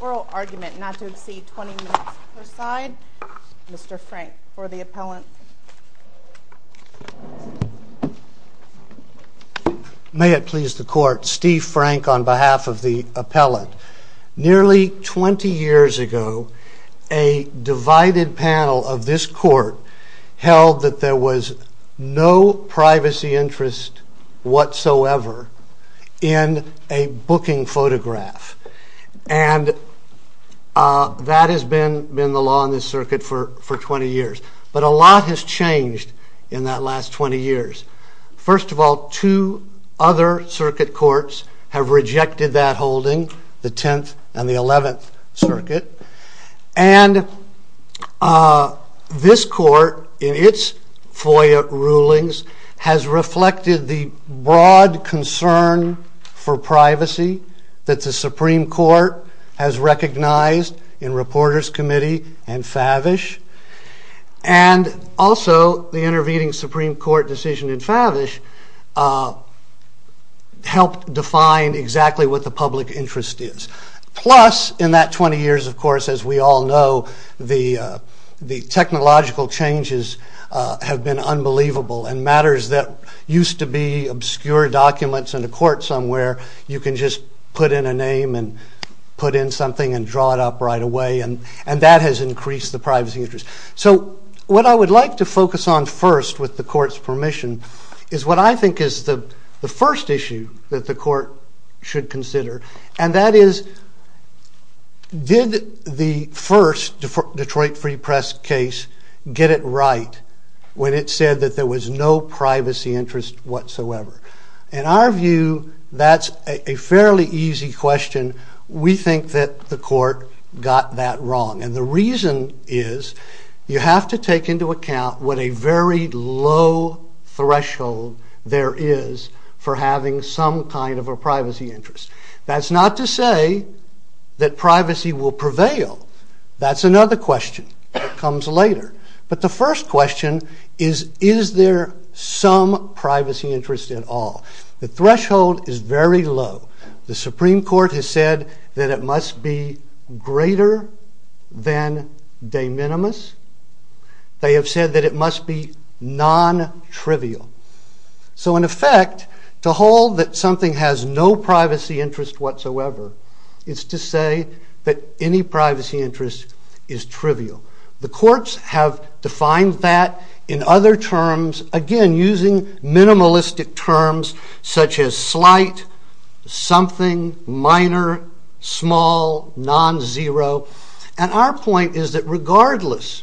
Oral argument not to exceed 20 minutes per side, Mr. Frank, for the appellant. May it please the Court, Steve Frank on behalf of the appellant. Nearly 20 years ago, a divided panel of this court held that there was no privacy interest whatsoever in a booking photograph. And that has been the law in this circuit for 20 years. But a lot has changed in that last 20 years. First of all, two other circuit courts have rejected that holding, the 10th and the 11th Circuit. And this court, in its FOIA rulings, has reflected the broad concern for privacy that the Supreme Court has recognized in Reporters Committee and Favish. And also, the intervening Supreme Court decision in Favish helped define exactly what the public interest is. Plus, in that 20 years, of course, as we all know, the technological changes have been unbelievable. And matters that used to be obscure documents in a court somewhere, you can just put in a name and put in something and draw it up right away. And that has increased the privacy interest. So what I would like to focus on first, with the court's permission, is what I think is the first issue that the court should consider. And that is, did the first Detroit Free Press case get it right when it said that there was no privacy interest whatsoever? In our view, that's a fairly easy question. We think that the court got that wrong. And the reason is, you have to take into account what a very low threshold there is for having some kind of a privacy interest. That's not to say that privacy will prevail. That's another question that comes later. But the first question is, is there some privacy interest at all? The threshold is very low. The Supreme Court has said that it must be greater than de minimis. They have said that it must be non-trivial. So in effect, to hold that something has no privacy interest whatsoever is to say that any privacy interest is trivial. The courts have defined that in other terms, again using minimalistic terms such as slight, something, minor, small, non-zero. And our point is that regardless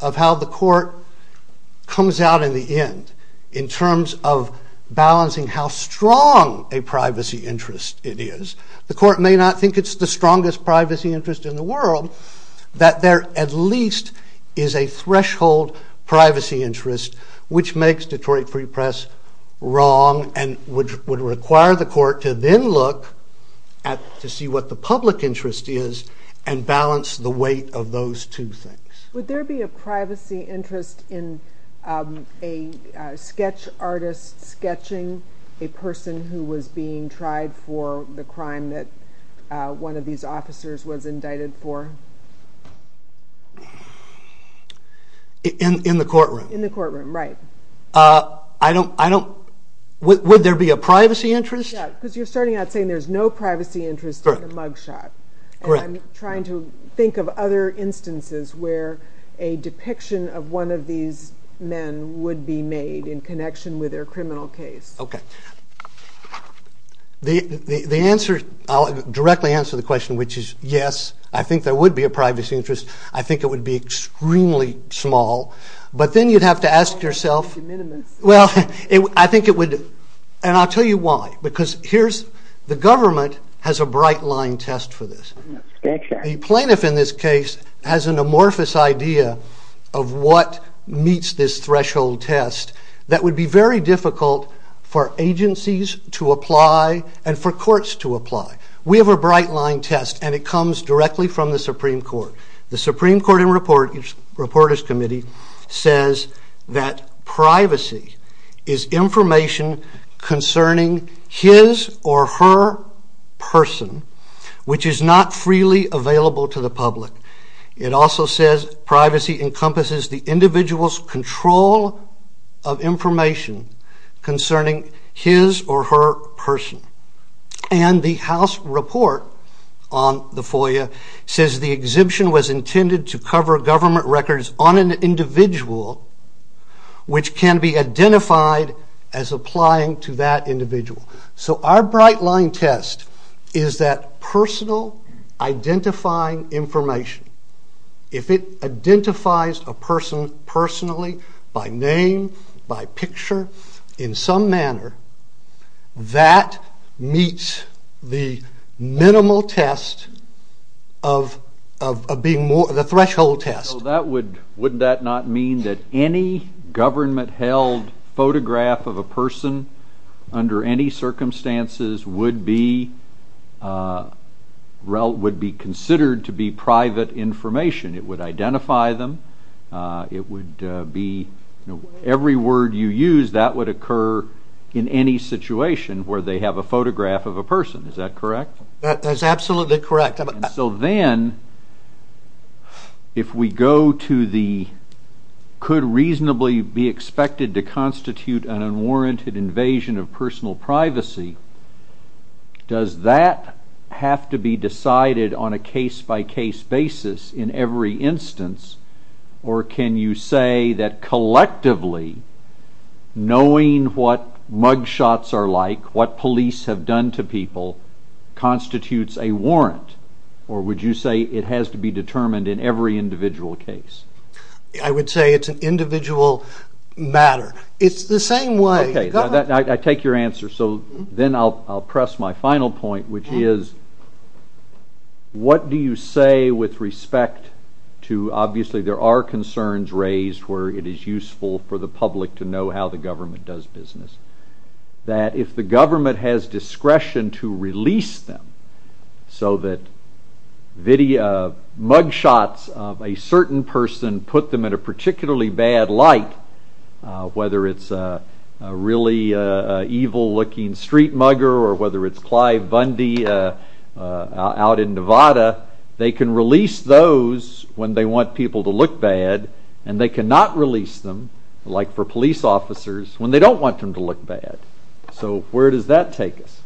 of how the court comes out in the end, in terms of balancing how strong a privacy interest it is, the court may not think it's the strongest privacy interest in the world, that there at least is a threshold privacy interest which makes Detroit Free Press wrong and would require the court to then look to see what the public interest is and balance the weight of those two things. Would there be a privacy interest in a sketch artist sketching a person who was being tried for the crime that one of these officers was indicted for? In the courtroom? In the courtroom, right. Would there be a privacy interest? Yeah, because you're starting out saying there's no privacy interest in a mug shot. Correct. And I'm trying to think of other instances where a depiction of one of these men would be made in connection with their criminal case. Okay. The answer, I'll directly answer the question which is yes, I think there would be a privacy interest. I think it would be extremely small. But then you'd have to ask yourself, well, I think it would, and I'll tell you why. The government has a bright line test for this. A plaintiff in this case has an amorphous idea of what meets this threshold test that would be very difficult for agencies to apply and for courts to apply. We have a bright line test and it comes directly from the Supreme Court. The Supreme Court and Reporters Committee says that privacy is information concerning his or her person which is not freely available to the public. It also says privacy encompasses the individual's control of information concerning his or her person. And the House report on the FOIA says the exhibition was intended to cover government records on an individual which can be identified as applying to that individual. So our bright line test is that personal identifying information, if it identifies a person personally by name, by picture, in some manner, that meets the minimal test of being more of a threshold test. So wouldn't that not mean that any government-held photograph of a person under any circumstances would be considered to be private information? It would identify them. Every word you use, that would occur in any situation where they have a photograph of a person. Is that correct? That's absolutely correct. So then, if we go to the could reasonably be expected to constitute an unwarranted invasion of personal privacy, does that have to be decided on a case-by-case basis in every instance? Or can you say that collectively, knowing what mugshots are like, what police have done to people, constitutes a warrant? Or would you say it has to be determined in every individual case? I would say it's an individual matter. It's the same way. I take your answer. So then I'll press my final point, which is, what do you say with respect to, obviously there are concerns raised where it is useful for the public to know how the government does business, that if the government has discretion to release them so that mugshots of a certain person put them in a particularly bad light, whether it's a really evil-looking street mugger, or whether it's Clive Bundy out in Nevada, they can release those when they want people to look bad, and they cannot release them, like for police officers, when they don't want them to look bad. So where does that take us?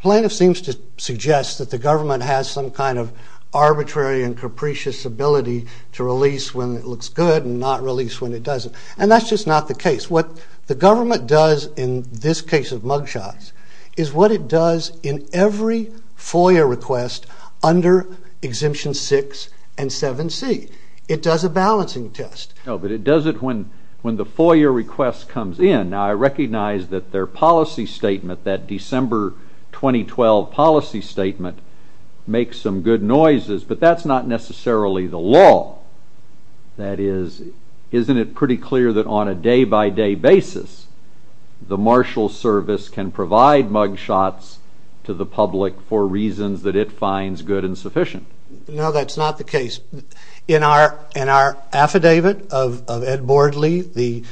Plaintiff seems to suggest that the government has some kind of arbitrary and capricious ability to release when it looks good and not release when it doesn't. And that's just not the case. What the government does in this case of mugshots is what it does in every FOIA request under Exemption 6 and 7C. It does a balancing test. No, but it does it when the FOIA request comes in. Now, I recognize that their policy statement, that December 2012 policy statement, makes some good noises, but that's not necessarily the law. That is, isn't it pretty clear that on a day-by-day basis, the Marshals Service can provide mugshots to the public for reasons that it finds good and sufficient? No, that's not the case. In our affidavit of Ed Bordley, the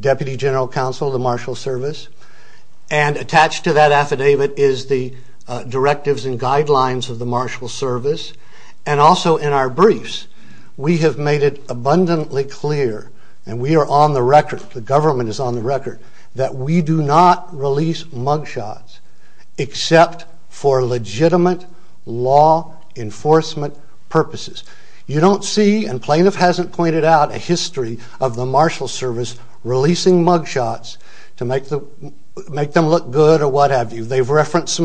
Deputy General Counsel of the Marshals Service, and attached to that affidavit is the directives and guidelines of the Marshals Service, and also in our briefs, we have made it abundantly clear, and we are on the record, the government is on the record, that we do not release mugshots except for legitimate law enforcement purposes. You don't see, and plaintiff hasn't pointed out, a history of the Marshals Service releasing mugshots to make them look good or what have you. They've referenced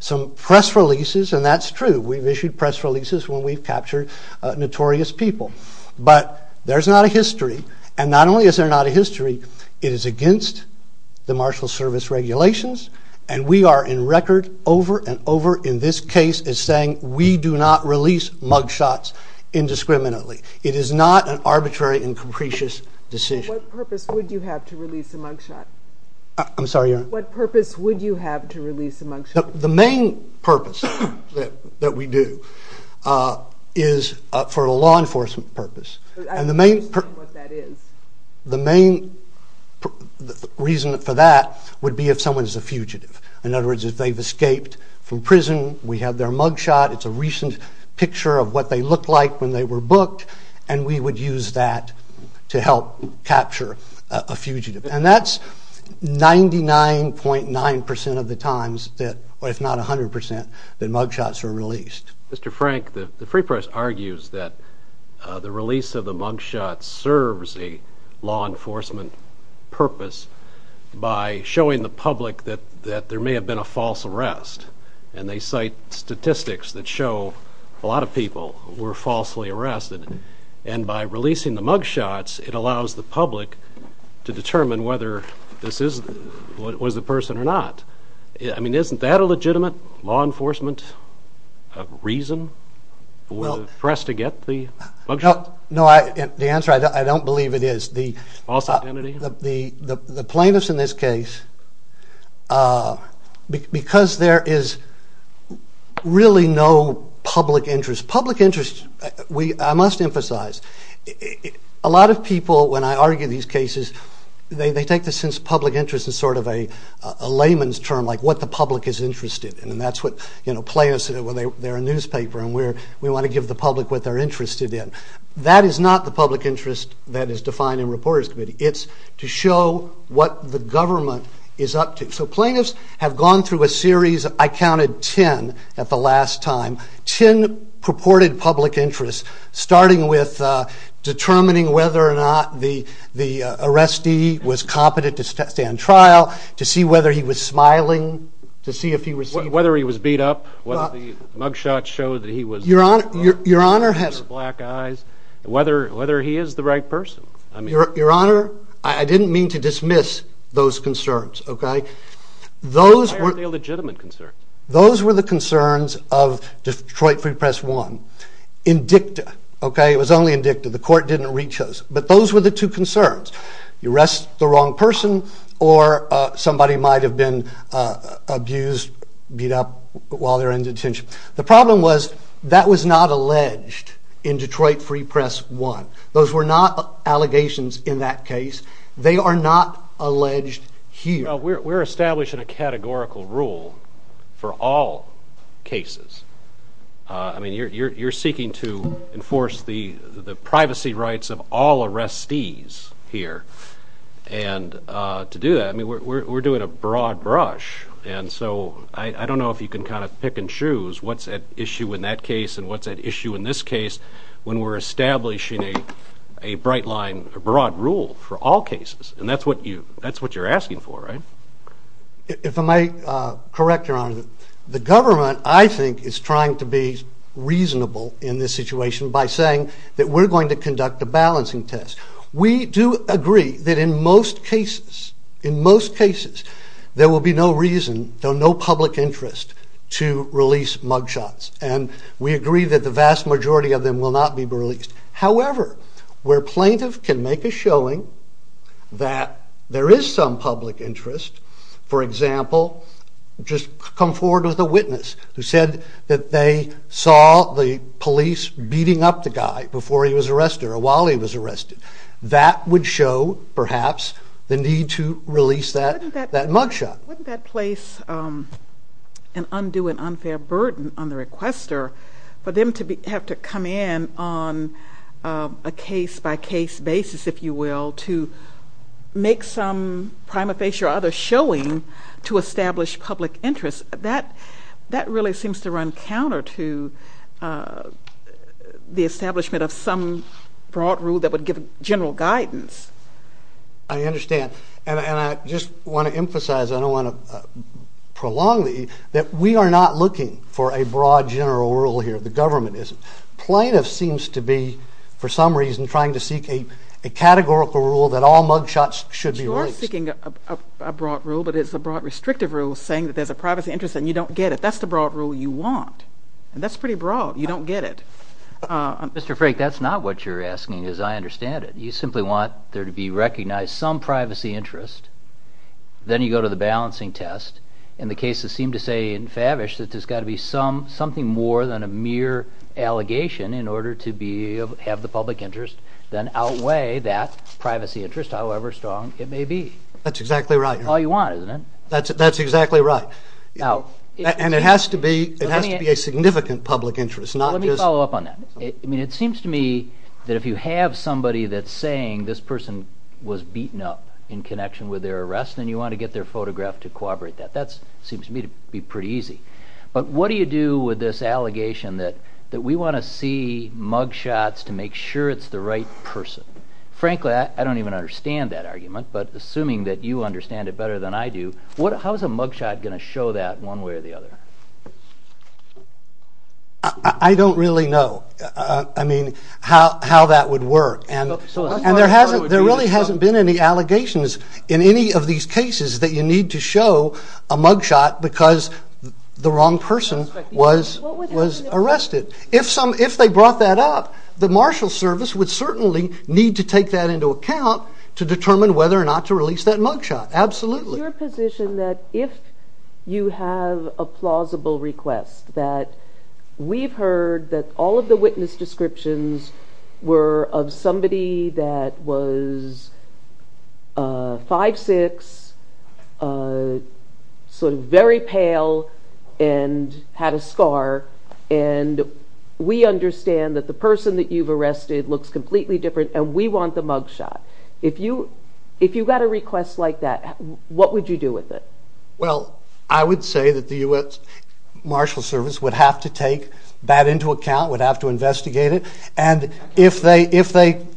some press releases, and that's true. We've issued press releases when we've captured notorious people. But there's not a history, and not only is there not a history, it is against the Marshals Service regulations, and we are in record over and over in this case as saying we do not release mugshots indiscriminately. It is not an arbitrary and capricious decision. What purpose would you have to release a mugshot? I'm sorry, Your Honor? What purpose would you have to release a mugshot? The main purpose that we do is for a law enforcement purpose. I don't understand what that is. The main reason for that would be if someone's a fugitive. In other words, if they've escaped from prison, we have their mugshot, it's a recent picture of what they looked like when they were booked, and we would use that to help capture a fugitive. And that's 99.9% of the times, if not 100%, that mugshots are released. Mr. Frank, the Free Press argues that the release of the mugshot serves a law enforcement purpose by showing the public that there may have been a false arrest, and they cite statistics that show a lot of people were falsely arrested. And by releasing the mugshots, it allows the public to determine whether this was a person or not. I mean, isn't that a legitimate law enforcement reason for the press to get the mugshot? No, the answer, I don't believe it is. False identity? The plaintiffs in this case, because there is really no public interest, public interest, I must emphasize, a lot of people, when I argue these cases, they take the sense of public interest as sort of a layman's term, like what the public is interested in, and that's what plaintiffs, they're a newspaper and we want to give the public what they're interested in. That is not the public interest that is defined in reporters' committee. It's to show what the government is up to. So plaintiffs have gone through a series, I counted 10 at the last time, 10 purported public interests, starting with determining whether or not the arrestee was competent to stand trial, to see whether he was smiling, to see if he was... Whether he was beat up, whether the mugshots showed that he was... Your Honor has... Black eyes, whether he is the right person. Your Honor, I didn't mean to dismiss those concerns, okay? Why aren't they legitimate concerns? Those were the concerns of Detroit Free Press 1. Indicta, okay, it was only indicta, the court didn't rechoose. But those were the two concerns. You arrest the wrong person, or somebody might have been abused, beat up while they were in detention. The problem was that was not alleged in Detroit Free Press 1. Those were not allegations in that case. They are not alleged here. We're establishing a categorical rule for all cases. I mean, you're seeking to enforce the privacy rights of all arrestees here. And to do that, we're doing a broad brush. And so I don't know if you can kind of pick and choose what's at issue in that case and what's at issue in this case when we're establishing a bright line, a broad rule for all cases. And that's what you're asking for, right? If I may correct, Your Honor, the government, I think, is trying to be reasonable in this situation by saying that we're going to conduct a balancing test. We do agree that in most cases there will be no reason, no public interest, to release mugshots. And we agree that the vast majority of them will not be released. However, where a plaintiff can make a showing that there is some public interest, for example, just come forward with a witness who said that they saw the police that would show, perhaps, the need to release that mugshot. Wouldn't that place an undue and unfair burden on the requester for them to have to come in on a case-by-case basis, if you will, to make some prima facie or other showing to establish public interest? That really seems to run counter to the establishment of some broad rule that would give general guidance. I understand. And I just want to emphasize, and I don't want to prolong it, that we are not looking for a broad general rule here. The government isn't. Plaintiff seems to be, for some reason, trying to seek a categorical rule that all mugshots should be released. You're seeking a broad rule, but it's a broad restrictive rule saying that there's a privacy interest and you don't get it. That's the broad rule you want. And that's pretty broad. You don't get it. Mr. Frake, that's not what you're asking, as I understand it. You simply want there to be recognized some privacy interest, then you go to the balancing test. And the cases seem to say in Favish that there's got to be something more than a mere allegation in order to have the public interest then outweigh that privacy interest, however strong it may be. That's exactly right. That's all you want, isn't it? That's exactly right. And it has to be a significant public interest. Let me follow up on that. I mean, it seems to me that if you have somebody that's saying this person was beaten up in connection with their arrest and you want to get their photograph to corroborate that, that seems to me to be pretty easy. But what do you do with this allegation that we want to see mugshots to make sure it's the right person? Frankly, I don't even understand that argument, but assuming that you understand it better than I do, how is a mugshot going to show that one way or the other? I don't really know, I mean, how that would work. And there really hasn't been any allegations in any of these cases that you need to show a mugshot because the wrong person was arrested. If they brought that up, the Marshal Service would certainly need to take that into account to determine whether or not to release that mugshot, absolutely. Is your position that if you have a plausible request, that we've heard that all of the witness descriptions were of somebody that was 5'6", sort of very pale and had a scar, and we understand that the person that you've arrested looks completely different and we want the mugshot. If you got a request like that, what would you do with it? Well, I would say that the U.S. Marshal Service would have to take that into account, would have to investigate it, and if they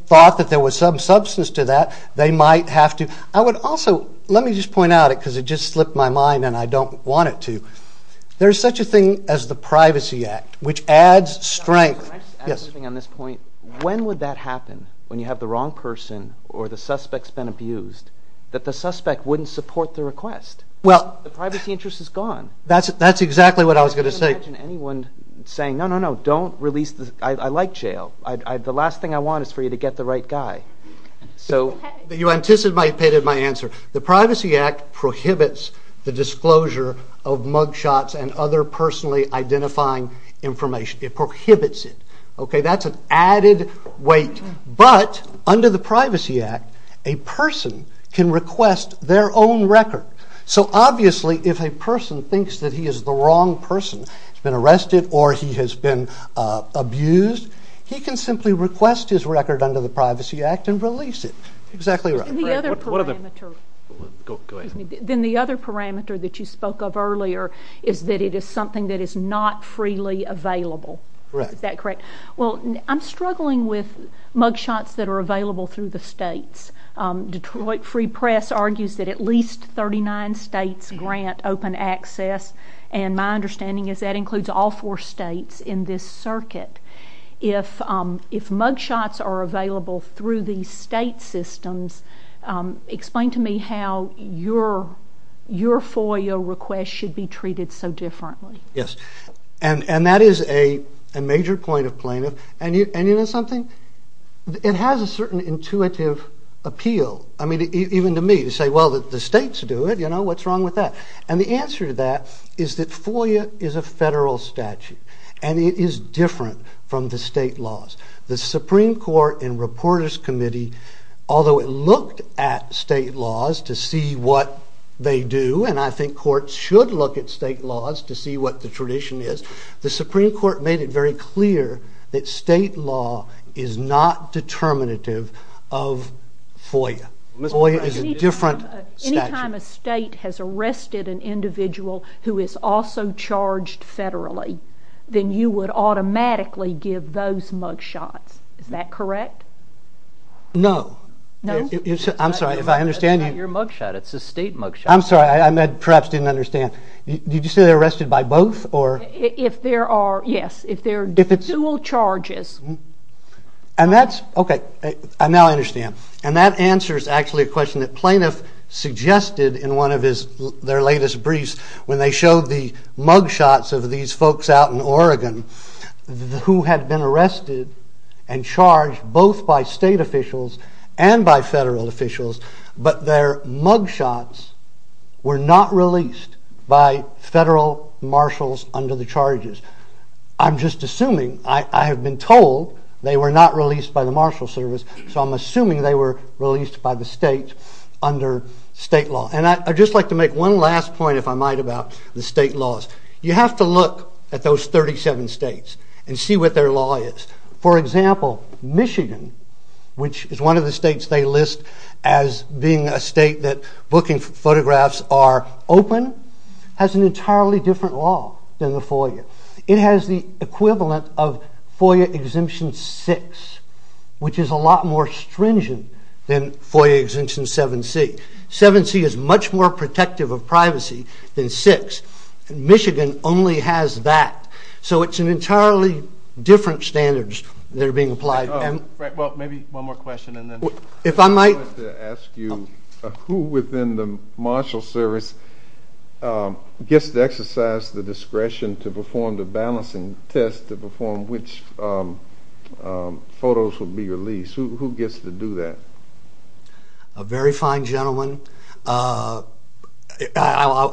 thought that there was some substance to that, they might have to. I would also, let me just point out it, because it just slipped my mind and I don't want it to. There's such a thing as the Privacy Act, which adds strength. Can I just add something on this point? When would that happen, when you have the wrong person or the suspect's been abused, that the suspect wouldn't support the request? The privacy interest is gone. That's exactly what I was going to say. I can't imagine anyone saying, no, no, no, don't release the... I like jail. The last thing I want is for you to get the right guy. You anticipated my answer. The Privacy Act prohibits the disclosure of mugshots and other personally identifying information. It prohibits it. Okay, that's an added weight. But under the Privacy Act, a person can request their own record. So obviously if a person thinks that he is the wrong person, has been arrested or he has been abused, he can simply request his record under the Privacy Act and release it. Exactly right. Then the other parameter that you spoke of earlier is that it is something that is not freely available. Correct. Is that correct? Well, I'm struggling with mugshots that are available through the states. Detroit Free Press argues that at least 39 states grant open access, and my understanding is that includes all four states in this circuit. If mugshots are available through these state systems, explain to me how your FOIA request should be treated so differently. Yes. And that is a major point of plaintiff. And you know something? It has a certain intuitive appeal. I mean, even to me, to say, well, the states do it. You know, what's wrong with that? And the answer to that is that FOIA is a federal statute, and it is different from the state laws. The Supreme Court and Reporters Committee, although it looked at state laws to see what they do, and I think courts should look at state laws to see what the tradition is, the Supreme Court made it very clear that state law is not determinative of FOIA. FOIA is a different statute. Anytime a state has arrested an individual who is also charged federally, then you would automatically give those mugshots. Is that correct? No. No? I'm sorry, if I understand you. It's not your mugshot. It's a state mugshot. I'm sorry. I perhaps didn't understand. Did you say they're arrested by both? If there are, yes, if there are dual charges. And that's, okay, I now understand. And that answers actually a question that plaintiff suggested in one of their latest briefs when they showed the mugshots of these folks out in Oregon who had been arrested and charged both by state officials and by federal officials, but their mugshots were not released by federal marshals under the charges. I'm just assuming. I have been told they were not released by the Marshal Service, so I'm assuming they were released by the state under state law. And I'd just like to make one last point, if I might, about the state laws. You have to look at those 37 states and see what their law is. For example, Michigan, which is one of the states they list as being a state that booking photographs are open, has an entirely different law than the FOIA. It has the equivalent of FOIA Exemption 6, which is a lot more stringent than FOIA Exemption 7C. 7C is much more protective of privacy than 6, and Michigan only has that. So it's an entirely different standards that are being applied. Well, maybe one more question, and then... If I might... I wanted to ask you, who within the Marshal Service gets to exercise the discretion to perform the balancing test to perform which photos will be released? Who gets to do that? A very fine gentleman. I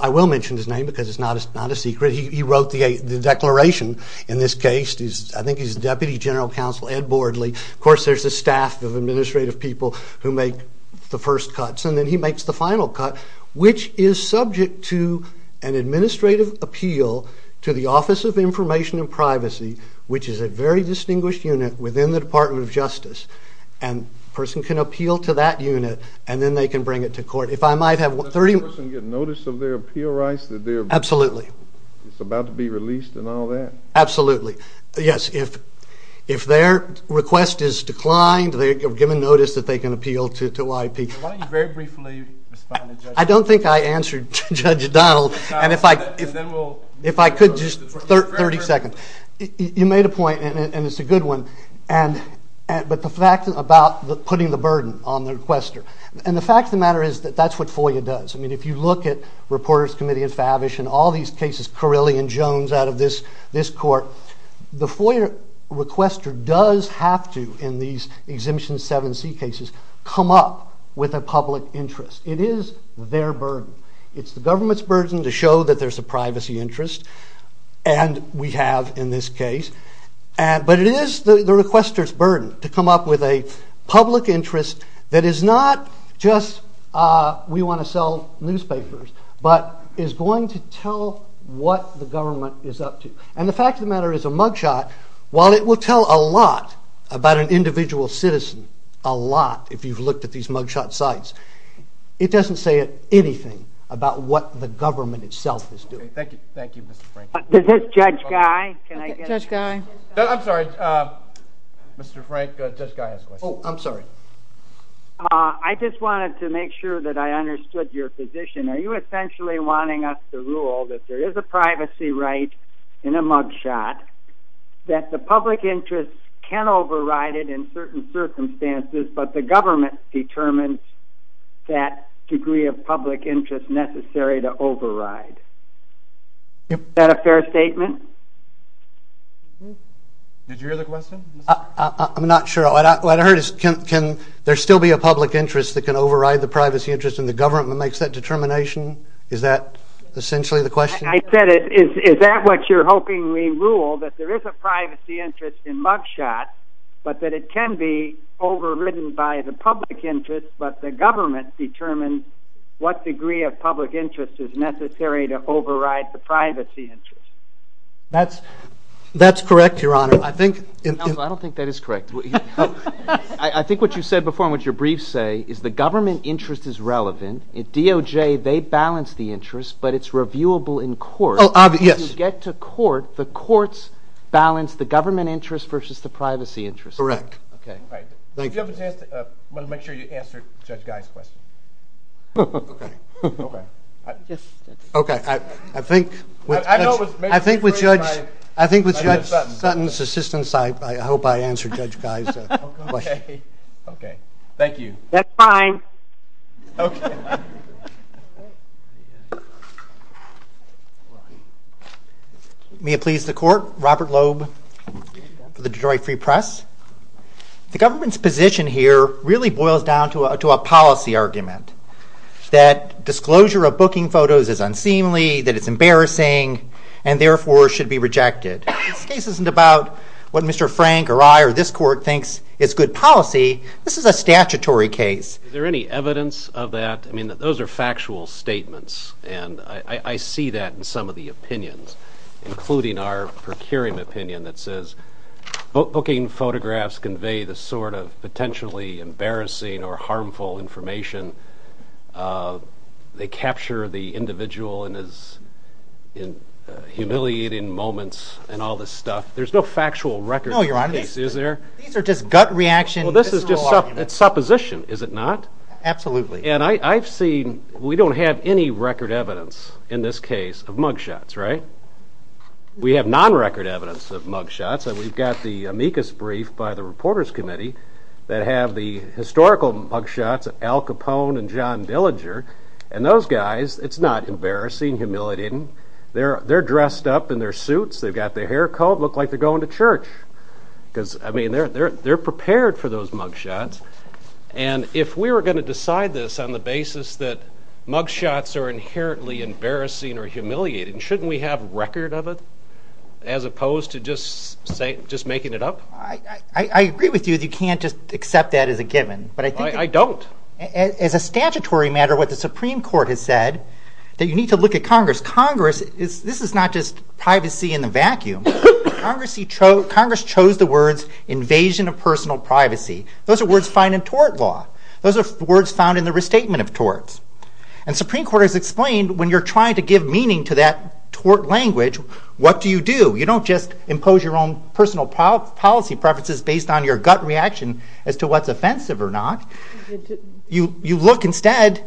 will mention his name because it's not a secret. He wrote the declaration in this case. I think he's Deputy General Counsel Ed Bordley. Of course, there's a staff of administrative people who make the first cuts, and then he makes the final cut, which is subject to an administrative appeal to the Office of Information and Privacy, which is a very distinguished unit within the Department of Justice. And a person can appeal to that unit, and then they can bring it to court. If I might have 30... Does a person get notice of their appeal rights? Absolutely. It's about to be released and all that? Absolutely. Yes. If their request is declined, they're given notice that they can appeal to OIP. Why don't you very briefly respond to Judge Donald? I don't think I answered Judge Donald. And if I could just 30 seconds. You made a point, and it's a good one, but the fact about putting the burden on the requester. And the fact of the matter is that that's what FOIA does. I mean, if you look at Reporters Committee and Favish and all these cases, Carilli and Jones out of this court, the FOIA requester does have to, in these Exemption 7C cases, come up with a public interest. It is their burden. It's the government's burden to show that there's a privacy interest, and we have in this case. But it is the requester's burden to come up with a public interest that is not just we want to sell newspapers, but is going to tell what the government is up to. And the fact of the matter is a mugshot, while it will tell a lot about an individual citizen, a lot, if you've looked at these mugshot sites, it doesn't say anything about what the government itself is doing. Thank you. Thank you, Mr. Franklin. Is this Judge Guy? Judge Guy. I'm sorry. Mr. Frank, Judge Guy has a question. Oh, I'm sorry. I just wanted to make sure that I understood your position. Are you essentially wanting us to rule that there is a privacy right in a mugshot, that the public interest can override it in certain circumstances, but the government determines that degree of public interest necessary to override? Is that a fair statement? Did you hear the question? I'm not sure. What I heard is can there still be a public interest that can override the privacy interest, and the government makes that determination? Is that essentially the question? I said is that what you're hoping we rule, that there is a privacy interest in mugshot, but that it can be overridden by the public interest, but the government determines what degree of public interest is necessary to override the privacy interest. That's correct, Your Honor. I don't think that is correct. I think what you said before and what your briefs say is the government interest is relevant. At DOJ, they balance the interest, but it's reviewable in court. As you get to court, the courts balance the government interest versus the privacy interest. Correct. If you have a chance, I want to make sure you answer Judge Guy's question. I think with Judge Sutton's assistance, I hope I answered Judge Guy's question. Thank you. That's fine. Okay. May it please the court, Robert Loeb for the Detroit Free Press. The government's position here really boils down to a policy argument, that disclosure of booking photos is unseemly, that it's embarrassing, and therefore should be rejected. This case isn't about what Mr. Frank or I or this court thinks is good policy. This is a statutory case. Is there any evidence of that? I mean, those are factual statements, and I see that in some of the opinions, including our procuring opinion that says booking photographs convey the sort of potentially embarrassing or harmful information. They capture the individual in his humiliating moments and all this stuff. There's no factual record for this case, is there? No, Your Honor. These are just gut reactions. Well, this is just supposition, is it not? Absolutely. And I've seen, we don't have any record evidence in this case of mug shots, right? We have non-record evidence of mug shots, and we've got the amicus brief by the Reporters Committee that have the historical mug shots of Al Capone and John Dillinger, and those guys, it's not embarrassing, humiliating. They're dressed up in their suits, they've got their hair combed, look like they're going to church. I mean, they're prepared for those mug shots, and if we were going to decide this on the basis that mug shots are inherently embarrassing or humiliating, shouldn't we have record of it as opposed to just making it up? I agree with you that you can't just accept that as a given. I don't. As a statutory matter, what the Supreme Court has said, that you need to look at Congress. Congress, this is not just privacy in the vacuum. Congress chose the words, invasion of personal privacy. Those are words found in tort law. Those are words found in the restatement of torts. And the Supreme Court has explained, when you're trying to give meaning to that tort language, what do you do? You don't just impose your own personal policy preferences based on your gut reaction as to what's offensive or not. You look instead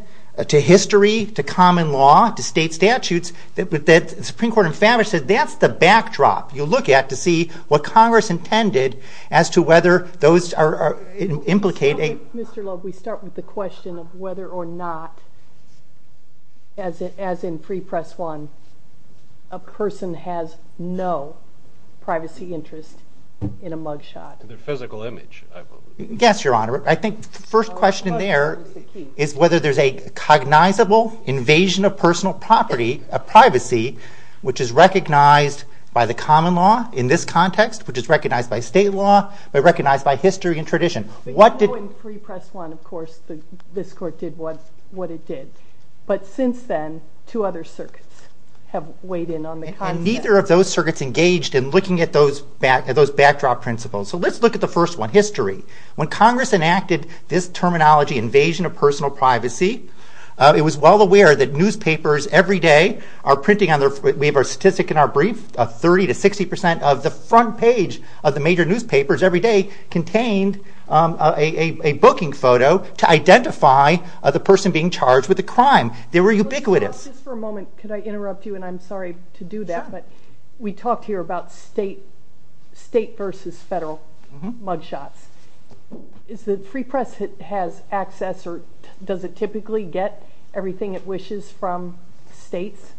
to history, to common law, to state statutes. The Supreme Court in Favre said that's the backdrop you look at to see what Congress intended as to whether those implicate a— Mr. Loeb, we start with the question of whether or not, as in pre-press one, a person has no privacy interest in a mug shot. The physical image, I believe. Yes, Your Honor. I think the first question there is whether there's a cognizable invasion of personal property, of privacy, which is recognized by the common law in this context, which is recognized by state law, but recognized by history and tradition. In pre-press one, of course, this Court did what it did. But since then, two other circuits have weighed in on the concept. And neither of those circuits engaged in looking at those backdrop principles. So let's look at the first one, history. When Congress enacted this terminology, invasion of personal privacy, it was well aware that newspapers every day are printing—we have a statistic in our brief— 30 to 60 percent of the front page of the major newspapers every day contained a booking photo to identify the person being charged with a crime. They were ubiquitous. Just for a moment, could I interrupt you? And I'm sorry to do that, but we talked here about state versus federal mug shots. Does the free press have access or does it typically get everything it wishes from states?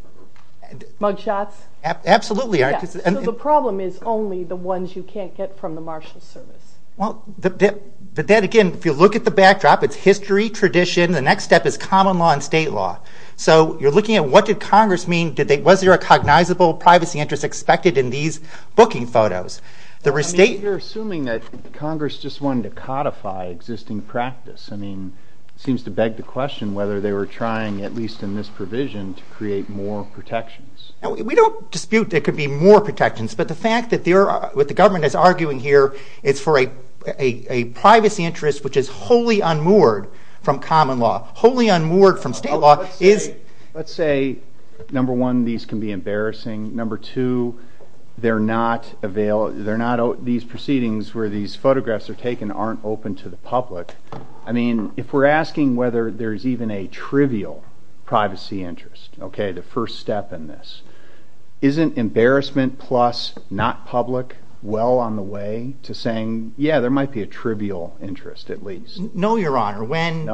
Mug shots? Absolutely. So the problem is only the ones you can't get from the Marshals Service. But then again, if you look at the backdrop, it's history, tradition. The next step is common law and state law. So you're looking at what did Congress mean? Was there a cognizable privacy interest expected in these booking photos? I mean, you're assuming that Congress just wanted to codify existing practice. I mean, it seems to beg the question whether they were trying, at least in this provision, to create more protections. We don't dispute there could be more protections. But the fact that what the government is arguing here is for a privacy interest which is wholly unmoored from common law, wholly unmoored from state law is— Let's say, number one, these can be embarrassing. Number two, these proceedings where these photographs are taken aren't open to the public. I mean, if we're asking whether there's even a trivial privacy interest, the first step in this, isn't embarrassment plus not public well on the way to saying, yeah, there might be a trivial interest at least? No, Your Honor. No? When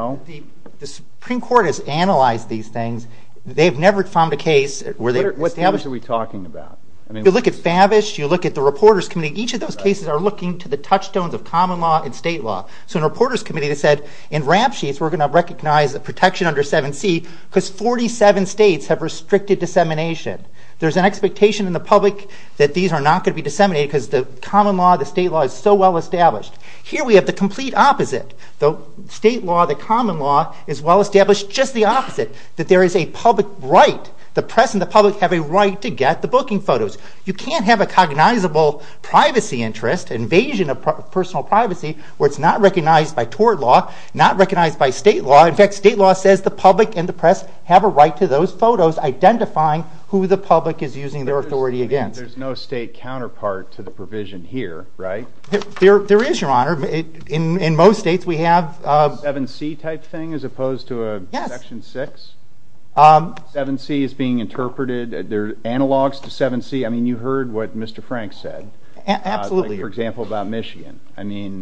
the Supreme Court has analyzed these things, they've never found a case where they've established— What standards are we talking about? I mean— You look at FABISH. You look at the Reporters Committee. Each of those cases are looking to the touchstones of common law and state law. So in the Reporters Committee, they said, in RAMP sheets, we're going to recognize protection under 7C because 47 states have restricted dissemination. There's an expectation in the public that these are not going to be disseminated because the common law, the state law, is so well established. Here we have the complete opposite. The state law, the common law, is well established just the opposite, that there is a public right. The press and the public have a right to get the booking photos. You can't have a cognizable privacy interest, invasion of personal privacy, where it's not recognized by tort law, not recognized by state law. In fact, state law says the public and the press have a right to those photos identifying who the public is using their authority against. There's no state counterpart to the provision here, right? There is, Your Honor. In most states, we have a 7C type thing as opposed to a Section 6. 7C is being interpreted. There are analogs to 7C. I mean, you heard what Mr. Frank said. Absolutely. For example, about Michigan.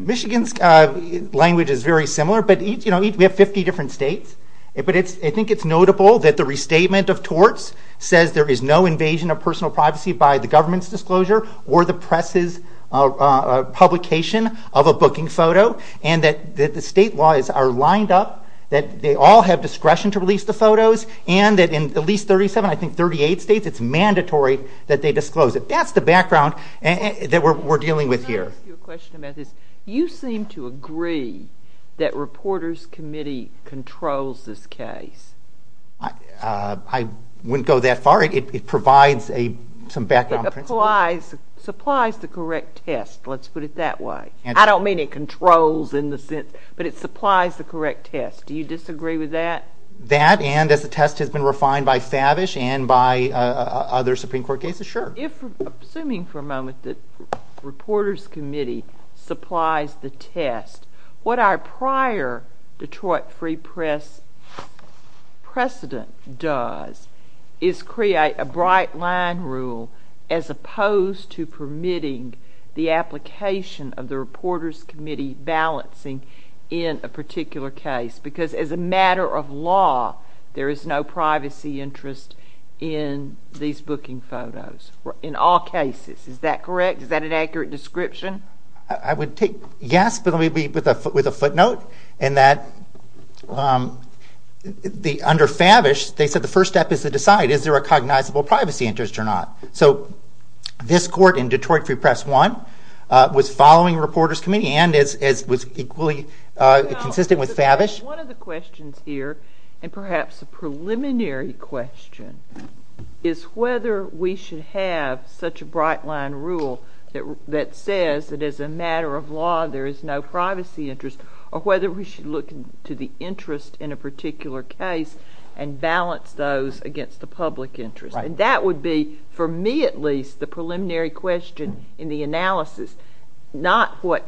Michigan's language is very similar, but we have 50 different states. But I think it's notable that the restatement of torts says there is no invasion of personal privacy by the government's disclosure, or the press's publication of a booking photo, and that the state laws are lined up, that they all have discretion to release the photos, and that in at least 37, I think 38 states, it's mandatory that they disclose it. That's the background that we're dealing with here. Let me ask you a question about this. You seem to agree that Reporters Committee controls this case. I wouldn't go that far. It provides some background principles. It supplies the correct test. Let's put it that way. I don't mean it controls in the sense, but it supplies the correct test. Do you disagree with that? That and as the test has been refined by Favish and by other Supreme Court cases, sure. Assuming for a moment that Reporters Committee supplies the test, what our prior Detroit Free Press precedent does is create a bright-line rule as opposed to permitting the application of the Reporters Committee balancing in a particular case because as a matter of law, there is no privacy interest in these booking photos in all cases. Is that correct? Is that an accurate description? I would take yes, but let me be with a footnote in that under Favish, they said the first step is to decide is there a cognizable privacy interest or not. This court in Detroit Free Press 1 was following Reporters Committee and was equally consistent with Favish. One of the questions here and perhaps a preliminary question is whether we should have such a bright-line rule that says that as a matter of law, there is no privacy interest or whether we should look to the interest in a particular case and balance those against the public interest. That would be, for me at least, the preliminary question in the analysis, not what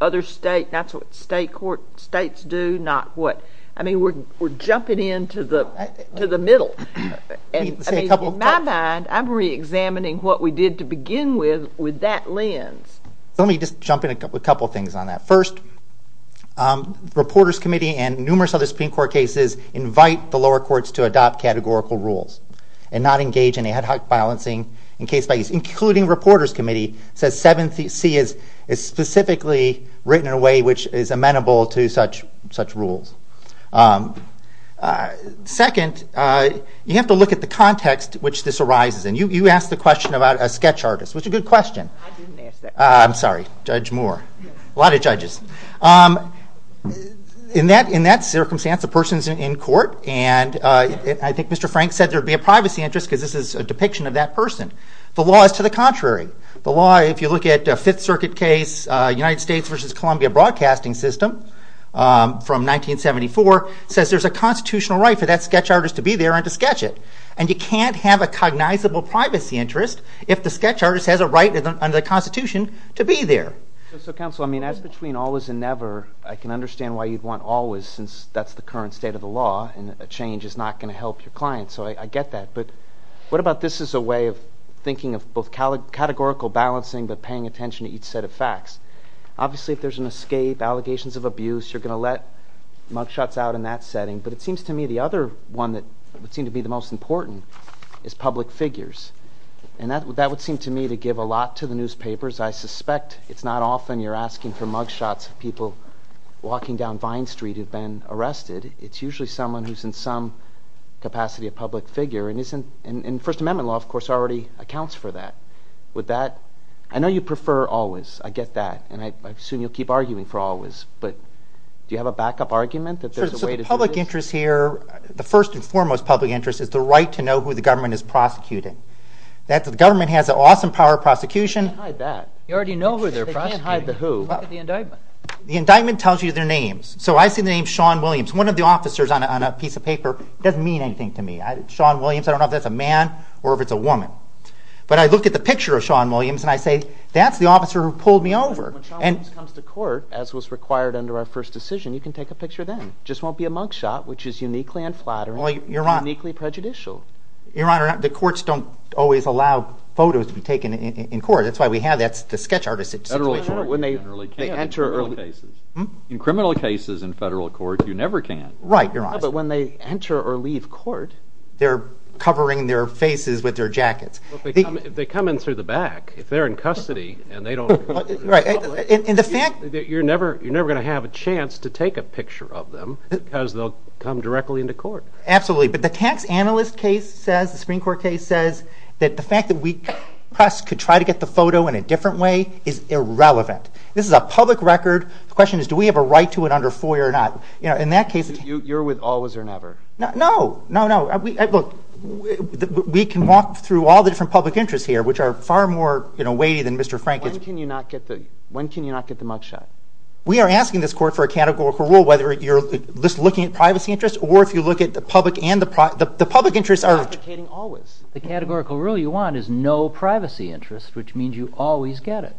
other states do. We're jumping into the middle. In my mind, I'm reexamining what we did to begin with with that lens. Let me just jump in a couple of things on that. First, Reporters Committee and numerous other Supreme Court cases invite the lower courts to adopt categorical rules and not engage in ad hoc balancing in case by case, including Reporters Committee says 7C is specifically written in a way which is amenable to such rules. Second, you have to look at the context in which this arises. You asked the question about a sketch artist, which is a good question. I didn't ask that question. I'm sorry, Judge Moore. A lot of judges. In that circumstance, the person is in court, and I think Mr. Frank said there would be a privacy interest because this is a depiction of that person. The law is to the contrary. The law, if you look at a Fifth Circuit case, United States v. Columbia Broadcasting System from 1974, says there's a constitutional right for that sketch artist to be there and to sketch it. And you can't have a cognizable privacy interest if the sketch artist has a right under the Constitution to be there. So, counsel, I mean, that's between always and never. I can understand why you'd want always, since that's the current state of the law, and a change is not going to help your client, so I get that. But what about this as a way of thinking of both categorical balancing but paying attention to each set of facts? Obviously, if there's an escape, allegations of abuse, you're going to let mugshots out in that setting. But it seems to me the other one that would seem to be the most important is public figures. And that would seem to me to give a lot to the newspapers. I suspect it's not often you're asking for mugshots of people walking down Vine Street who've been arrested. It's usually someone who's in some capacity a public figure and First Amendment law, of course, already accounts for that. I know you prefer always. I get that. And I assume you'll keep arguing for always. But do you have a backup argument that there's a way to do this? So the public interest here, the first and foremost public interest, is the right to know who the government is prosecuting. The government has the awesome power of prosecution. You already know who they're prosecuting. They can't hide the who. Look at the indictment. The indictment tells you their names. So I see the name Sean Williams. One of the officers on a piece of paper doesn't mean anything to me. Sean Williams, I don't know if that's a man or if it's a woman. But I look at the picture of Sean Williams and I say, that's the officer who pulled me over. When Sean Williams comes to court, as was required under our first decision, you can take a picture then. It just won't be a mugshot, which is uniquely unflattering, uniquely prejudicial. Your Honor, the courts don't always allow photos to be taken in court. That's why we have the sketch artist situation. In criminal cases in federal court, you never can. Right, Your Honor. But when they enter or leave court, they're covering their faces with their jackets. They come in through the back. If they're in custody, you're never going to have a chance to take a picture of them because they'll come directly into court. Absolutely. But the tax analyst case says, the Supreme Court case says, that the fact that we could try to get the photo in a different way is irrelevant. This is a public record. The question is, do we have a right to it under FOIA or not? You're with always or never. No. We can walk through all the different public interests here, which are far more weighty than Mr. Frank is. When can you not get the mugshot? We are asking this court for a categorical rule, whether you're just looking at privacy interests or if you look at the public and the private interests. The public interests are complicated always. The categorical rule you want is no privacy interests, which means you always get it.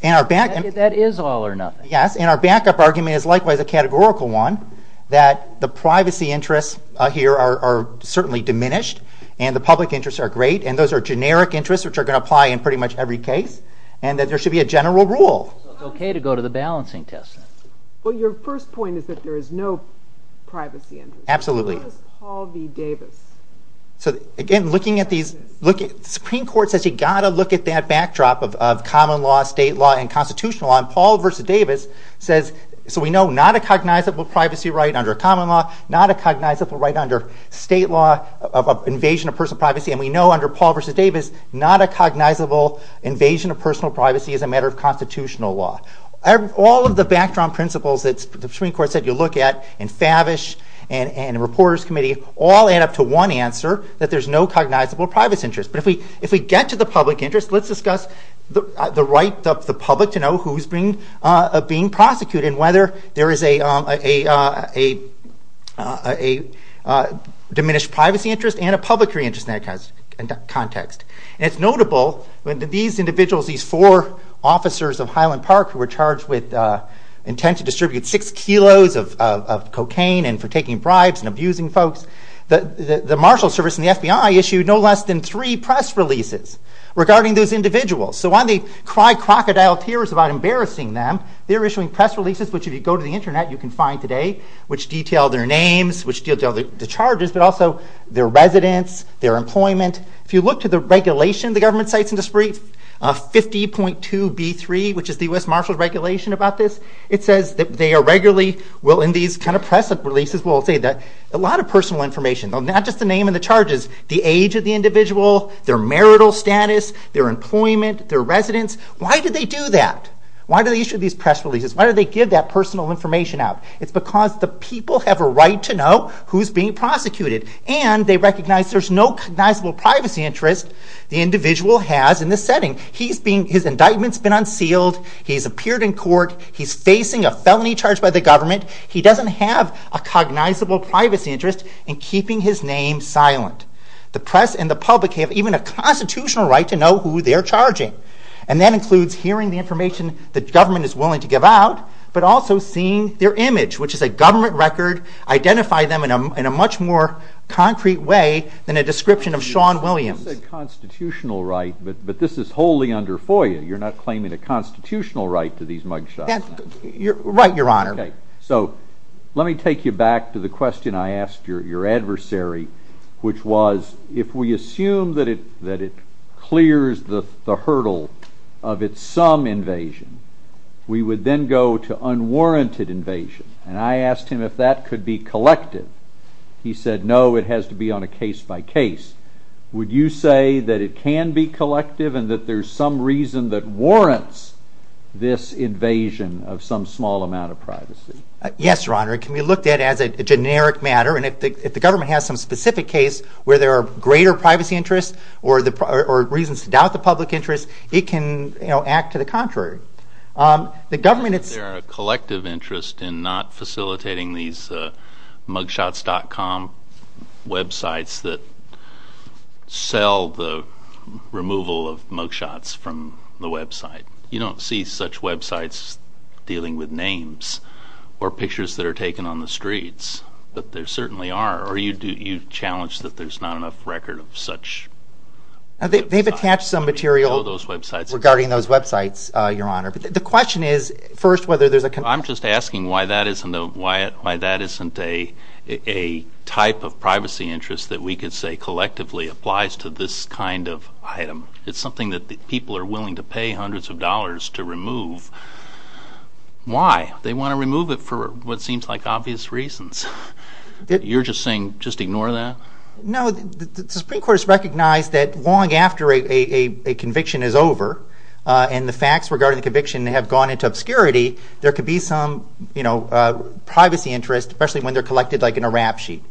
That is all or nothing. Yes, and our backup argument is likewise a categorical one, that the privacy interests here are certainly diminished and the public interests are great, and those are generic interests which are going to apply in pretty much every case, and that there should be a general rule. So it's okay to go to the balancing test. Well, your first point is that there is no privacy interest. Absolutely. How does Paul v. Davis? Supreme Court says you've got to look at that backdrop of common law, state law, and constitutional law, and Paul v. Davis says, so we know not a cognizable privacy right under common law, not a cognizable right under state law of invasion of personal privacy, and we know under Paul v. Davis not a cognizable invasion of personal privacy as a matter of constitutional law. All of the backdrop principles that the Supreme Court said you look at and Favish and the Reporters Committee all add up to one answer, that there's no cognizable privacy interest. But if we get to the public interest, let's discuss the right of the public to know who's being prosecuted and whether there is a diminished privacy interest and a public interest in that context. And it's notable that these individuals, these four officers of Highland Park who were charged with intent to distribute six kilos of cocaine and for taking bribes and abusing folks, the Marshals Service and the FBI issued no less than three press releases regarding those individuals. So while they cry crocodile tears about embarrassing them, they're issuing press releases, which if you go to the internet you can find today, which detail their names, which detail the charges, but also their residence, their employment. If you look to the regulation the government cites in this brief, 50.2b3, which is the U.S. Marshals regulation about this, it says that they are regularly, well in these kind of press releases, well I'll say that a lot of personal information, not just the name and the charges, the age of the individual, their marital status, their employment, their residence. Why do they do that? Why do they issue these press releases? Why do they give that personal information out? It's because the people have a right to know who's being prosecuted and they recognize there's no cognizable privacy interest the individual has in this setting. His indictment's been unsealed, he's appeared in court, he's facing a felony charge by the government, he doesn't have a cognizable privacy interest in keeping his name silent. The press and the public have even a constitutional right to know who they're charging. And that includes hearing the information the government is willing to give out, but also seeing their image, which is a government record, identify them in a much more concrete way than a description of Sean Williams. You said constitutional right, but this is wholly under FOIA. You're not claiming a constitutional right to these mugshots. Right, Your Honor. So let me take you back to the question I asked your adversary, which was if we assume that it clears the hurdle of its sum invasion, we would then go to unwarranted invasion. And I asked him if that could be collected. He said no, it has to be on a case-by-case. Would you say that it can be collective and that there's some reason that warrants this invasion of some small amount of privacy? Yes, Your Honor. It can be looked at as a generic matter, and if the government has some specific case where there are greater privacy interests or reasons to doubt the public interest, it can act to the contrary. The government, it's... Is there a collective interest in not facilitating these mugshots.com websites that sell the removal of mugshots from the website? You don't see such websites dealing with names or pictures that are taken on the streets, but there certainly are. Or you challenge that there's not enough record of such websites. They've attached some material regarding those websites, Your Honor. But the question is first whether there's a... I'm just asking why that isn't a type of privacy interest that we could say collectively applies to this kind of item. It's something that people are willing to pay hundreds of dollars to remove. Why? They want to remove it for what seems like obvious reasons. You're just saying just ignore that? No, the Supreme Court has recognized that long after a conviction is over and the facts regarding the conviction have gone into obscurity, there could be some privacy interest, especially when they're collected like in a rap sheet.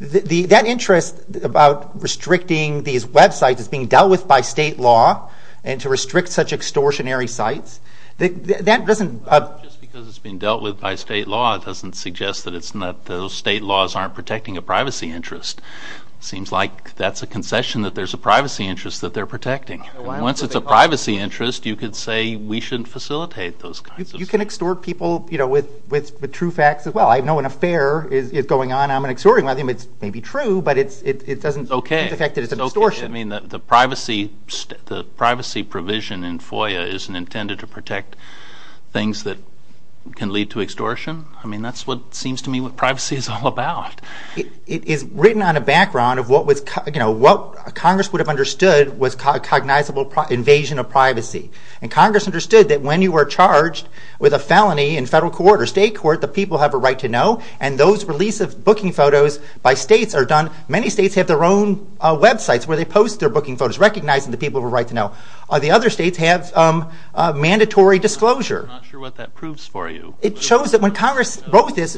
That interest about restricting these websites as being dealt with by state law and to restrict such extortionary sites, that doesn't... Just because it's being dealt with by state law doesn't suggest that those state laws aren't protecting a privacy interest. Seems like that's a concession that there's a privacy interest that they're protecting. Once it's a privacy interest, you could say we shouldn't facilitate those kinds of... You can extort people with true facts as well. I know an affair is going on, I'm going to extort him, it may be true, but it doesn't affect that it's an extortion. The privacy provision in FOIA isn't intended to protect things that can lead to extortion? That's what seems to me what privacy is all about. It is written on a background of what Congress would have understood was cognizable invasion of privacy. Congress understood that when you were charged with a felony in federal court or state court, the people have a right to know, and those release of booking photos by states are done... Many states have their own websites where they post their booking photos recognizing the people have a right to know. The other states have mandatory disclosure. I'm not sure what that proves for you. It shows that when Congress wrote this...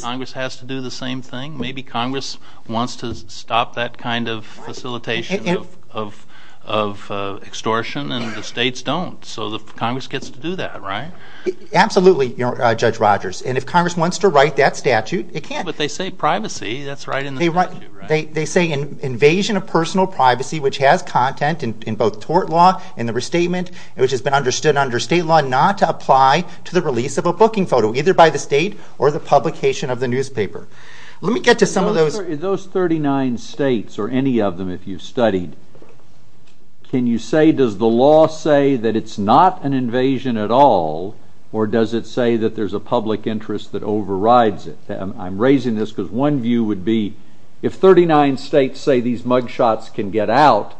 Congress has to do the same thing? Maybe Congress wants to stop that kind of facilitation of extortion, and the states don't. So Congress gets to do that, right? Absolutely, Judge Rogers. And if Congress wants to write that statute, it can. But they say privacy, that's right in the statute, right? They say invasion of personal privacy, which has content in both tort law and the restatement, which has been understood under state law not to apply to the release of a booking photo, either by the state or the publication of the newspaper. Let me get to some of those... or any of them if you've studied. Can you say, does the law say that it's not an invasion at all, or does it say that there's a public interest that overrides it? I'm raising this because one view would be if 39 states say these mugshots can get out,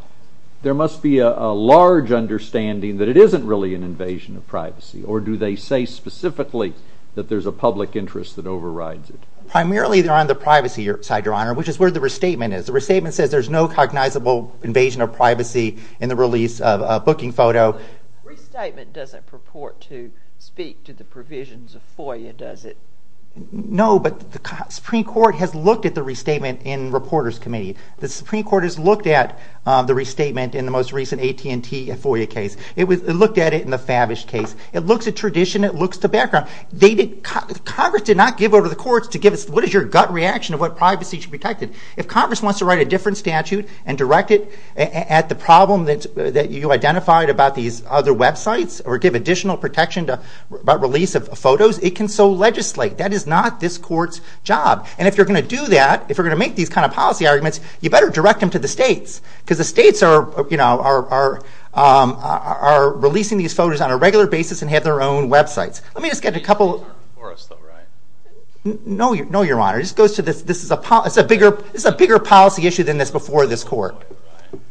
there must be a large understanding that it isn't really an invasion of privacy. Or do they say specifically that there's a public interest that overrides it? Primarily they're on the privacy side, Your Honor, which is where the restatement is. The restatement says there's no cognizable invasion of privacy in the release of a booking photo. The restatement doesn't purport to speak to the provisions of FOIA, does it? No, but the Supreme Court has looked at the restatement in Reporters Committee. The Supreme Court has looked at the restatement in the most recent AT&T FOIA case. It looked at it in the Favish case. It looks at tradition, it looks to background. Congress did not give over the courts to give us what is your gut reaction of what privacy should be protected. If Congress wants to write a different statute and direct it at the problem that you identified about these other websites, or give additional protection about release of photos, it can so legislate. That is not this court's job. And if you're going to do that, if you're going to make these kind of policy arguments, you better direct them to the states. Because the states are releasing these photos on a regular basis and have their own websites. Let me just get a couple... No, Your Honor. This is a bigger policy issue than this before this court.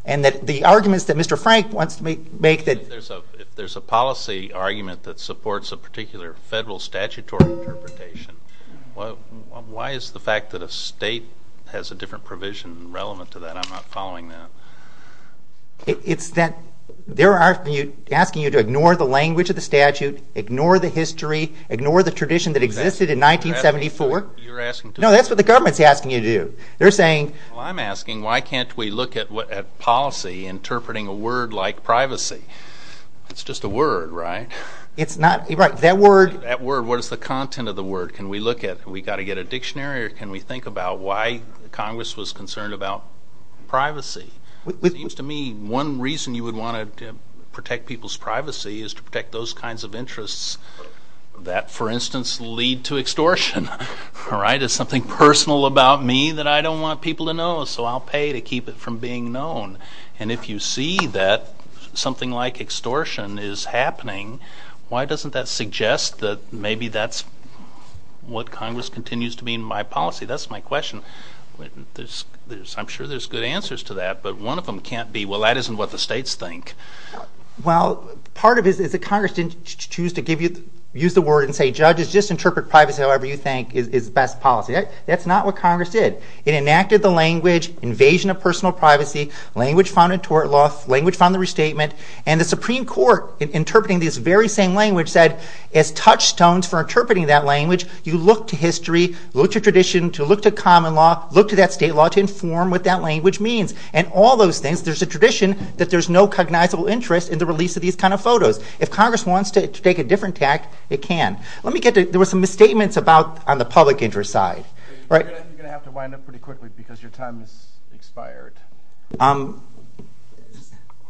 And the arguments that Mr. Frank wants to make... If there's a policy argument that supports a particular federal statutory interpretation, why is the fact that a state has a different provision relevant to that? I'm not following that. It's that they're asking you to ignore the language of the statute, ignore the history, ignore the tradition that existed in 1974. You're asking to... No, that's what the government's asking you to do. They're saying... Well, I'm asking, why can't we look at policy interpreting a word like privacy? It's just a word, right? It's not... Right, that word... That word, what is the content of the word? Can we look at, we've got to get a dictionary, or can we think about why Congress was concerned about privacy? It seems to me one reason you would want to protect people's privacy is to protect those kinds of interests that, for instance, lead to extortion, right? It's something personal about me that I don't want people to know, so I'll pay to keep it from being known. And if you see that something like extortion is happening, why doesn't that suggest that maybe that's what Congress continues to be in my policy? That's my question. I'm sure there's good answers to that, but one of them can't be, well, that isn't what the states think. Well, part of it is that Congress didn't choose to use the word and say, judges, just interpret privacy however you think is the best policy. That's not what Congress did. It enacted the language, invasion of personal privacy, language found in tort law, language found in restatement, and the Supreme Court, interpreting this very same language, said as touchstones for interpreting that language, you look to history, look to tradition, to look to common law, look to that state law to inform what that language means. And all those things, there's a tradition that there's no cognizable interest in the release of these kind of photos. If Congress wants to take a different tact, it can. Let me get to, there were some misstatements about, on the public interest side. You're going to have to wind up pretty quickly because your time has expired.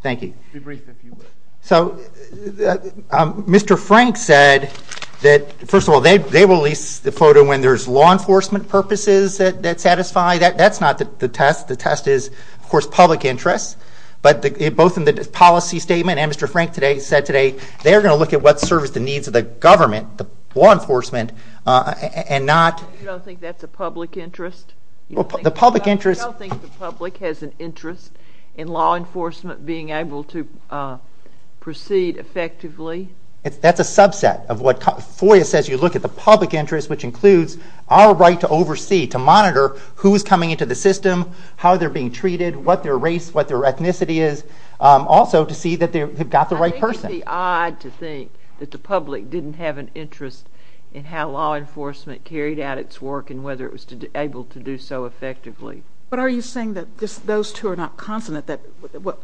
Thank you. Be brief if you would. So, Mr. Frank said that, first of all, they release the photo when there's law enforcement purposes that satisfy, that's not the test. The test is, of course, public interest, but both in the policy statement, and Mr. Frank said today, they're going to look at what serves the needs of the government, the law enforcement, and not... You don't think that's a public interest? The public interest... You don't think the public has an interest in law enforcement being able to proceed effectively? That's a subset of what, FOIA says you look at the public interest, which includes our right to oversee, to monitor who's coming into the system, how they're being treated, what their race, what their ethnicity is, also to see that they've got the right person. I think it's odd to think that the public didn't have an interest in how law enforcement carried out its work and whether it was able to do so effectively. But are you saying that those two are not consonant, that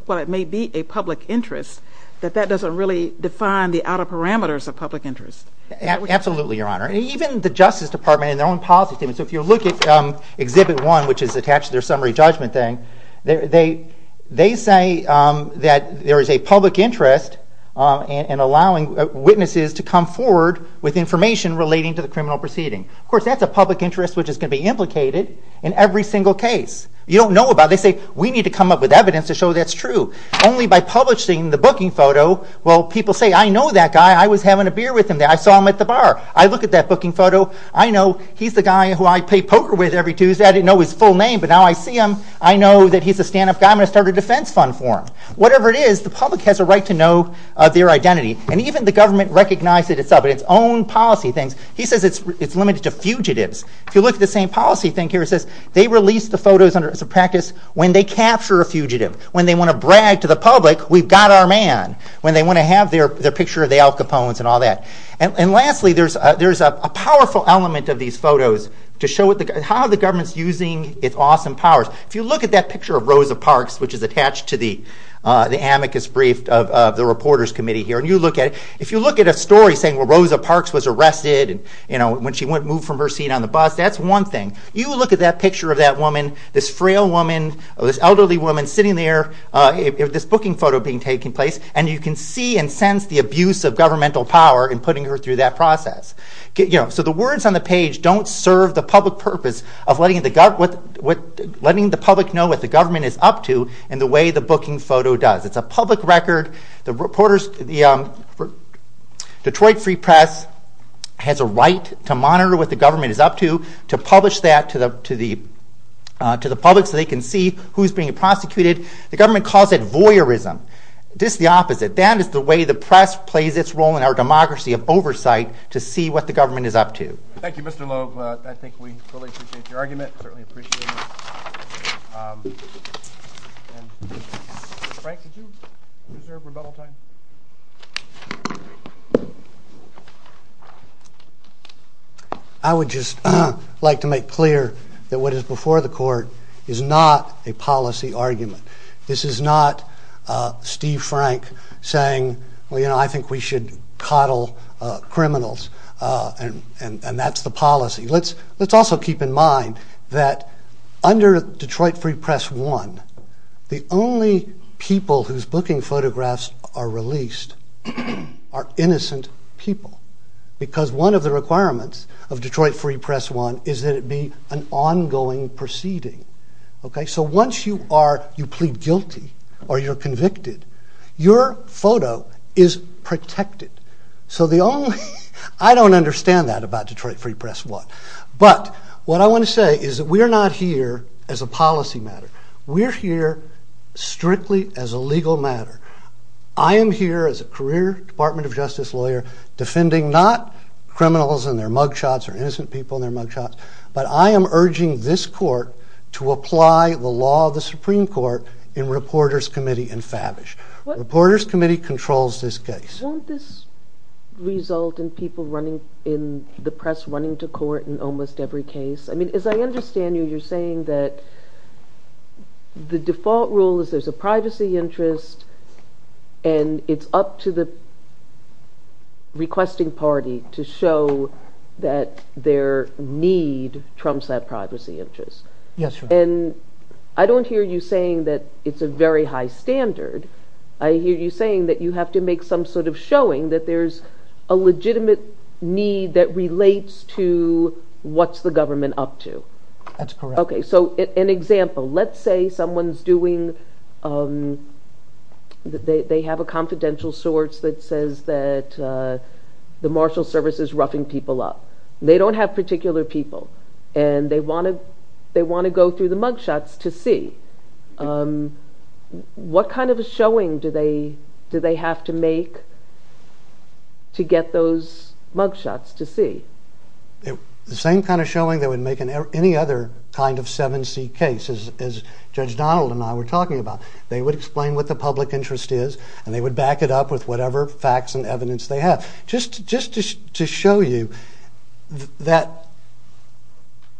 while it may be a public interest, that that doesn't really define the outer parameters of public interest? Absolutely, Your Honor. Even the Justice Department in their own policy statement, so if you look at Exhibit 1, which is attached to their summary judgment thing, they say that there is a public interest in allowing witnesses to come forward with information relating to the criminal proceeding. Of course, that's a public interest which is going to be implicated in every single case. You don't know about it. They say, we need to come up with evidence to show that's true. Only by publishing the booking photo, will people say, I know that guy, I was having a beer with him, I saw him at the bar, I look at that booking photo, I know he's the guy who I play poker with every Tuesday, I didn't know his full name, but now I see him, I know that he's a stand-up guy, I'm going to start a defense fund for him. Whatever it is, the public has a right to know their identity, and even the government recognizes itself in its own policy things. He says it's limited to fugitives. If you look at the same policy thing here, it says they release the photos as a practice when they capture a fugitive, when they want to brag to the public, we've got our man, when they want to have their picture of the Al Capones and all that. And lastly, there's a powerful element of these photos to show how the government's using its awesome powers. If you look at that picture of Rosa Parks, which is attached to the amicus brief of the Reporters Committee here, and you look at it, if you look at a story saying well Rosa Parks was arrested when she moved from her seat on the bus, that's one thing. You look at that picture of that woman, this frail woman, this elderly woman sitting there, this booking photo being taken place, and you can see and sense the abuse of governmental power in putting her through that process. So the words on the page don't serve the public purpose of letting the public know what the government is up to in the way the booking photo does. It's a public record. The Detroit Free Press has a right to monitor what the government is up to, to publish that to the public so they can see who's being prosecuted. The government calls it voyeurism. This is the opposite. That is the way the press plays its role in our democracy of oversight to see what the government is up to. Thank you, Mr. Logue. I think we fully appreciate your argument, certainly appreciate it. Frank, did you reserve rebuttal time? I would just like to make clear that what is before the court is not a policy argument. This is not Steve Frank saying, well, you know, I think we should coddle criminals, and that's the policy. Let's also keep in mind that under Detroit Free Press 1, the only people whose booking photographs are released are innocent people because one of the requirements of Detroit Free Press 1 is that it be an ongoing proceeding. So once you plead guilty or you're convicted, your photo is protected. I don't understand that about Detroit Free Press 1. But what I want to say is that we're not here as a policy matter. We're here strictly as a legal matter. I am here as a career Department of Justice lawyer defending not criminals and their mugshots or innocent people and their mugshots, but I am urging this court to apply the law of the Supreme Court in Reporters Committee and FABISH. Reporters Committee controls this case. Don't this result in people running in the press, running to court in almost every case? I mean, as I understand you, you're saying that the default rule is there's a privacy interest, and it's up to the requesting party to show that their need trumps that privacy interest. Yes, ma'am. And I don't hear you saying that it's a very high standard. I hear you saying that you have to make some sort of showing that there's a legitimate need that relates to what's the government up to. That's correct. Okay, so an example. Let's say someone's doing... They have a confidential source that says that the Marshal Service is roughing people up. They don't have particular people, and they want to go through the mugshots to see. What kind of a showing do they have to make to get those mugshots to see? The same kind of showing that would make any other kind of 7C case, as Judge Donald and I were talking about. They would explain what the public interest is, and they would back it up with whatever facts and evidence they have. Just to show you that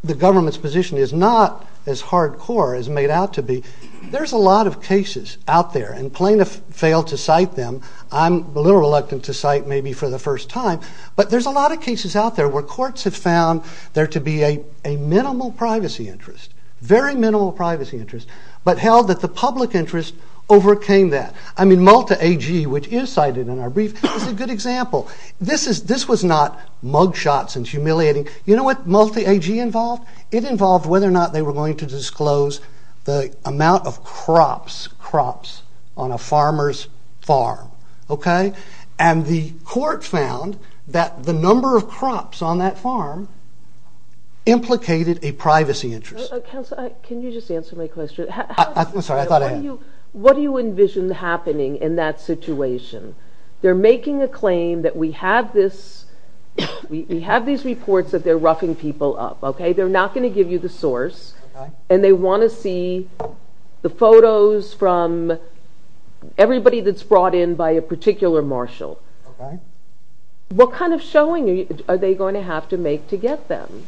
the government's position is not as hardcore as made out to be, there's a lot of cases out there, and plaintiffs fail to cite them. I'm a little reluctant to cite maybe for the first time, but there's a lot of cases out there where courts have found there to be a minimal privacy interest, very minimal privacy interest, but held that the public interest overcame that. I mean, Malta AG, which you cited in our brief, is a good example. This was not mugshots and humiliating. You know what Malta AG involved? It involved whether or not they were going to disclose the amount of crops, crops on a farmer's farm, okay? And the court found that the number of crops on that farm implicated a privacy interest. Counsel, can you just answer my question? I'm sorry, I thought I had... What do you envision happening in that situation? They're making a claim that we have this... We have these reports that they're roughing people up, okay? They're not going to give you the source, and they want to see the photos from everybody that's brought in by a particular marshal. Okay. What kind of showing are they going to have to make to get them?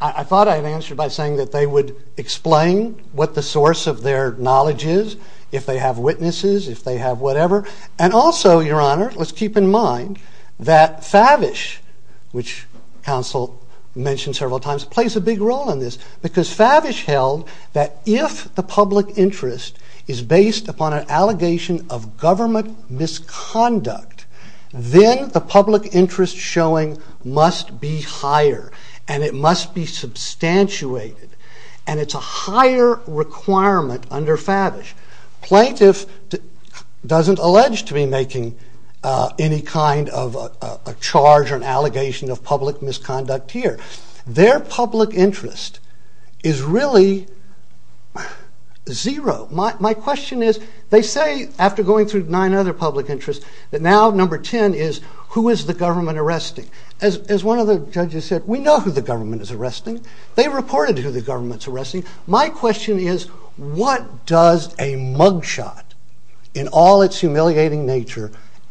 I thought I had answered by saying that they would explain what the source of their knowledge is, if they have witnesses, if they have whatever. And also, Your Honour, let's keep in mind that Favish, which counsel mentioned several times, plays a big role in this, because Favish held that if the public interest is based upon an allegation of government misconduct, then the public interest showing must be higher, and it must be substantiated, and it's a higher requirement under Favish. Plaintiff doesn't allege to be making any kind of a charge or an allegation of public misconduct here. Their public interest is really zero. My question is, they say, after going through nine other public interests, that now number 10 is, who is the government arresting? As one of the judges said, we know who the government is arresting. They reported who the government's arresting. My question is, what does a mugshot, in all its humiliating nature,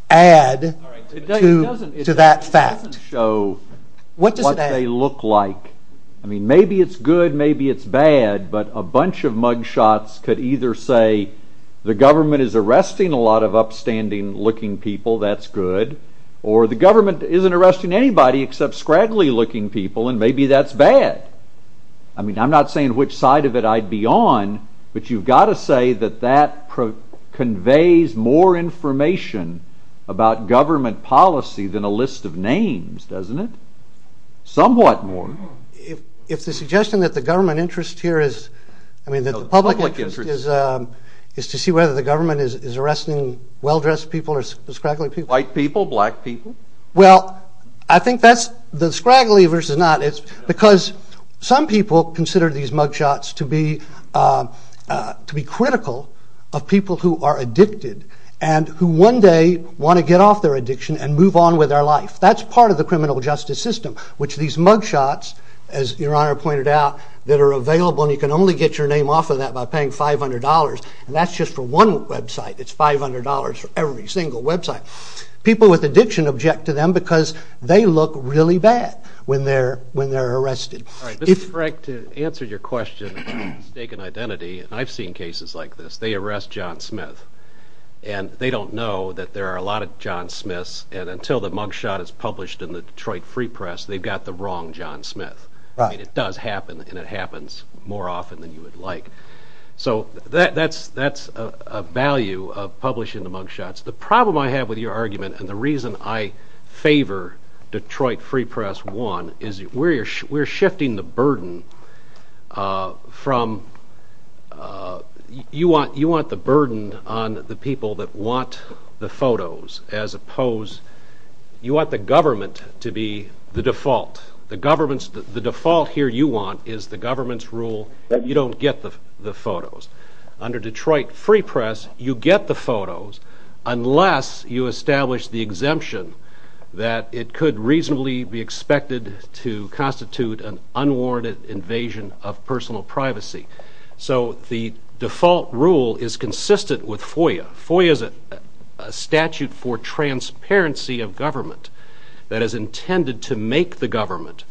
add to that fact? What does it add? Maybe it's good, maybe it's bad, but a bunch of mugshots could either say the government is arresting a lot of upstanding-looking people, that's good, or the government isn't arresting anybody except scraggly-looking people, and maybe that's bad. I'm not saying which side of it I'd be on, but you've got to say that that conveys more information about government policy than a list of names, doesn't it? Somewhat more. If the suggestion that the government interest here is, I mean that the public interest is, is to see whether the government is arresting well-dressed people or scraggly people. White people, black people? Well, I think that's, the scraggly versus not, because some people consider these mugshots to be critical of people who are addicted and who one day want to get off their addiction and move on with their life. That's part of the criminal justice system, which these mugshots, as Your Honor pointed out, that are available, and you can only get your name off of that by paying $500, and that's just for one website, it's $500 for every single website. People with addiction object to them because they look really bad when they're arrested. Mr. Frank, to answer your question about stake in identity, I've seen cases like this. They arrest John Smith, and they don't know that there are a lot of John Smiths, and until the mugshot is published in the Detroit Free Press, they've got the wrong John Smith. It does happen, and it happens more often than you would like. So that's a value of publishing the mugshots. The problem I have with your argument, and the reason I favor Detroit Free Press, one, is we're shifting the burden from... You want the burden on the people that want the photos as opposed... You want the government to be the default. The default here you want is the government's rule that you don't get the photos. Under Detroit Free Press, you get the photos unless you establish the exemption that it could reasonably be expected to constitute an unwarranted invasion of personal privacy. So the default rule is consistent with FOIA. FOIA is a statute for transparency of government that is intended to make the government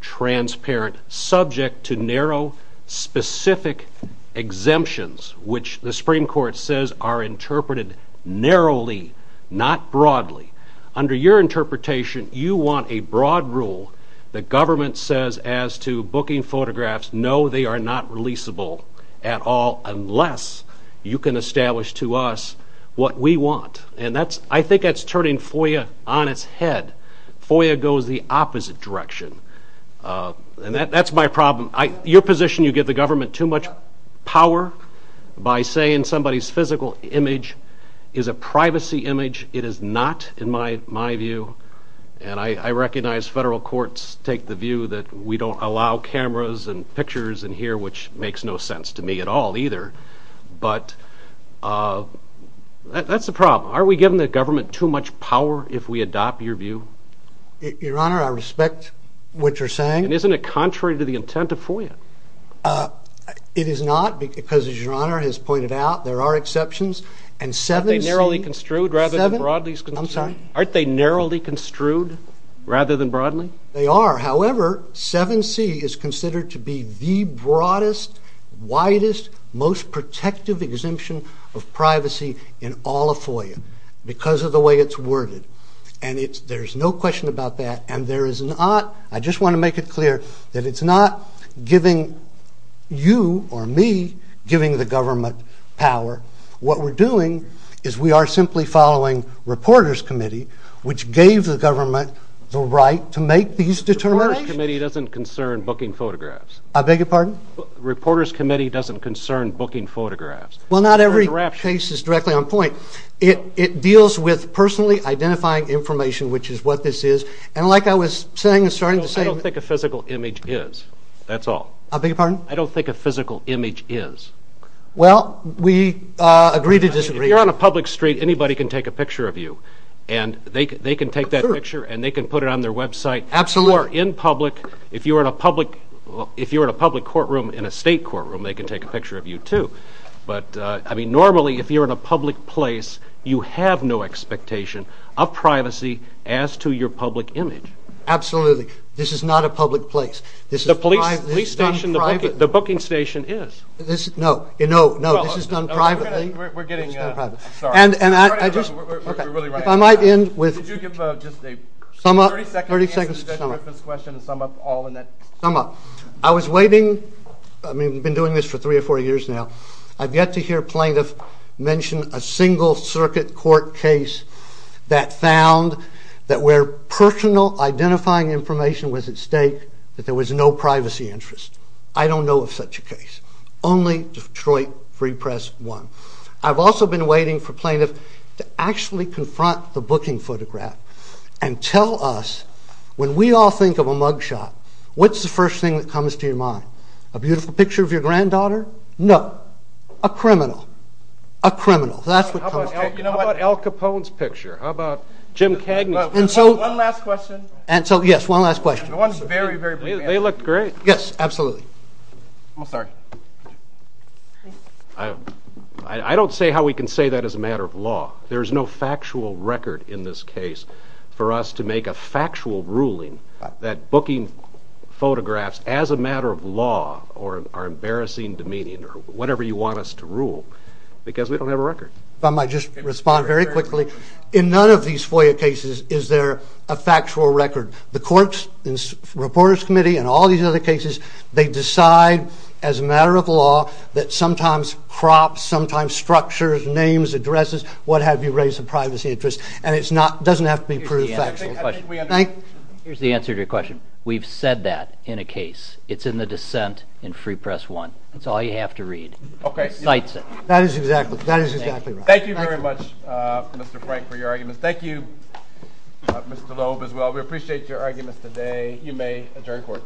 transparent, subject to narrow, specific exemptions, which the Supreme Court says are interpreted narrowly, not broadly. Under your interpretation, you want a broad rule that government says as to booking photographs, no, they are not releasable at all unless you can establish to us what we want. And I think that's turning FOIA on its head. FOIA goes the opposite direction. And that's my problem. Your position, you give the government too much power by saying somebody's physical image is a privacy image. It is not, in my view. And I recognize federal courts take the view that we don't allow cameras and pictures in here, which makes no sense to me at all either. But that's the problem. Are we giving the government too much power if we adopt your view? Your Honor, I respect what you're saying. And isn't it contrary to the intent of FOIA? It is not, because as Your Honor has pointed out, there are exceptions. Aren't they narrowly construed rather than broadly? They are. However, 7C is considered to be the broadest, widest, most protective exemption of privacy in all of FOIA because of the way it's worded. And there's no question about that. I just want to make it clear that it's not you or me giving the government power. What we're doing is we are simply following reporters' committee, which gave the government the right to make these determinations. Reporters' committee doesn't concern booking photographs. I beg your pardon? Reporters' committee doesn't concern booking photographs. Well, not every case is directly on point. It deals with personally identifying information, which is what this is. I don't think a physical image is. That's all. I beg your pardon? I don't think a physical image is. Well, we agree to disagree. If you're on a public street, anybody can take a picture of you. They can take that picture and put it on their website. Absolutely. If you're in a public courtroom in a state courtroom, they can take a picture of you, too. Normally, if you're in a public place, you have no expectation of privacy as to your public image. Absolutely. This is not a public place. The booking station is. No, this is done privately. We're really running out of time. Could you give a 30-second answer to this question and sum up all of that? I've been doing this for three or four years now. I've yet to hear plaintiffs mention a single-circuit court case that found that where personal identifying information was at stake, that there was no privacy interest. I don't know of such a case. Only Detroit Free Press won. I've also been waiting for plaintiffs to actually confront the booking photograph and tell us, when we all think of a mugshot, what's the first thing that comes to your mind? A beautiful picture of your granddaughter? No. A criminal. A criminal. How about Al Capone's picture? How about Jim Cagney's picture? One last question. They looked great. Yes, absolutely. I don't say how we can say that as a matter of law. There is no factual record in this case for us to make a factual ruling that booking photographs as a matter of law are embarrassing, demeaning, or whatever you want us to rule, because we don't have a record. If I might just respond very quickly. In none of these FOIA cases is there a factual record. The Courts and Reporters Committee and all these other cases, they decide as a matter of law that sometimes crops, sometimes structures, names, addresses, what have you, raise the privacy interest. And it doesn't have to be proved factual. Here's the answer to your question. We've said that in a case. It's in the dissent in Free Press 1. That's all you have to read. Cites it. That is exactly right. Thank you very much, Mr. Frank, for your arguments. Thank you, Mr. Loeb, as well. We appreciate your arguments today. You may adjourn court.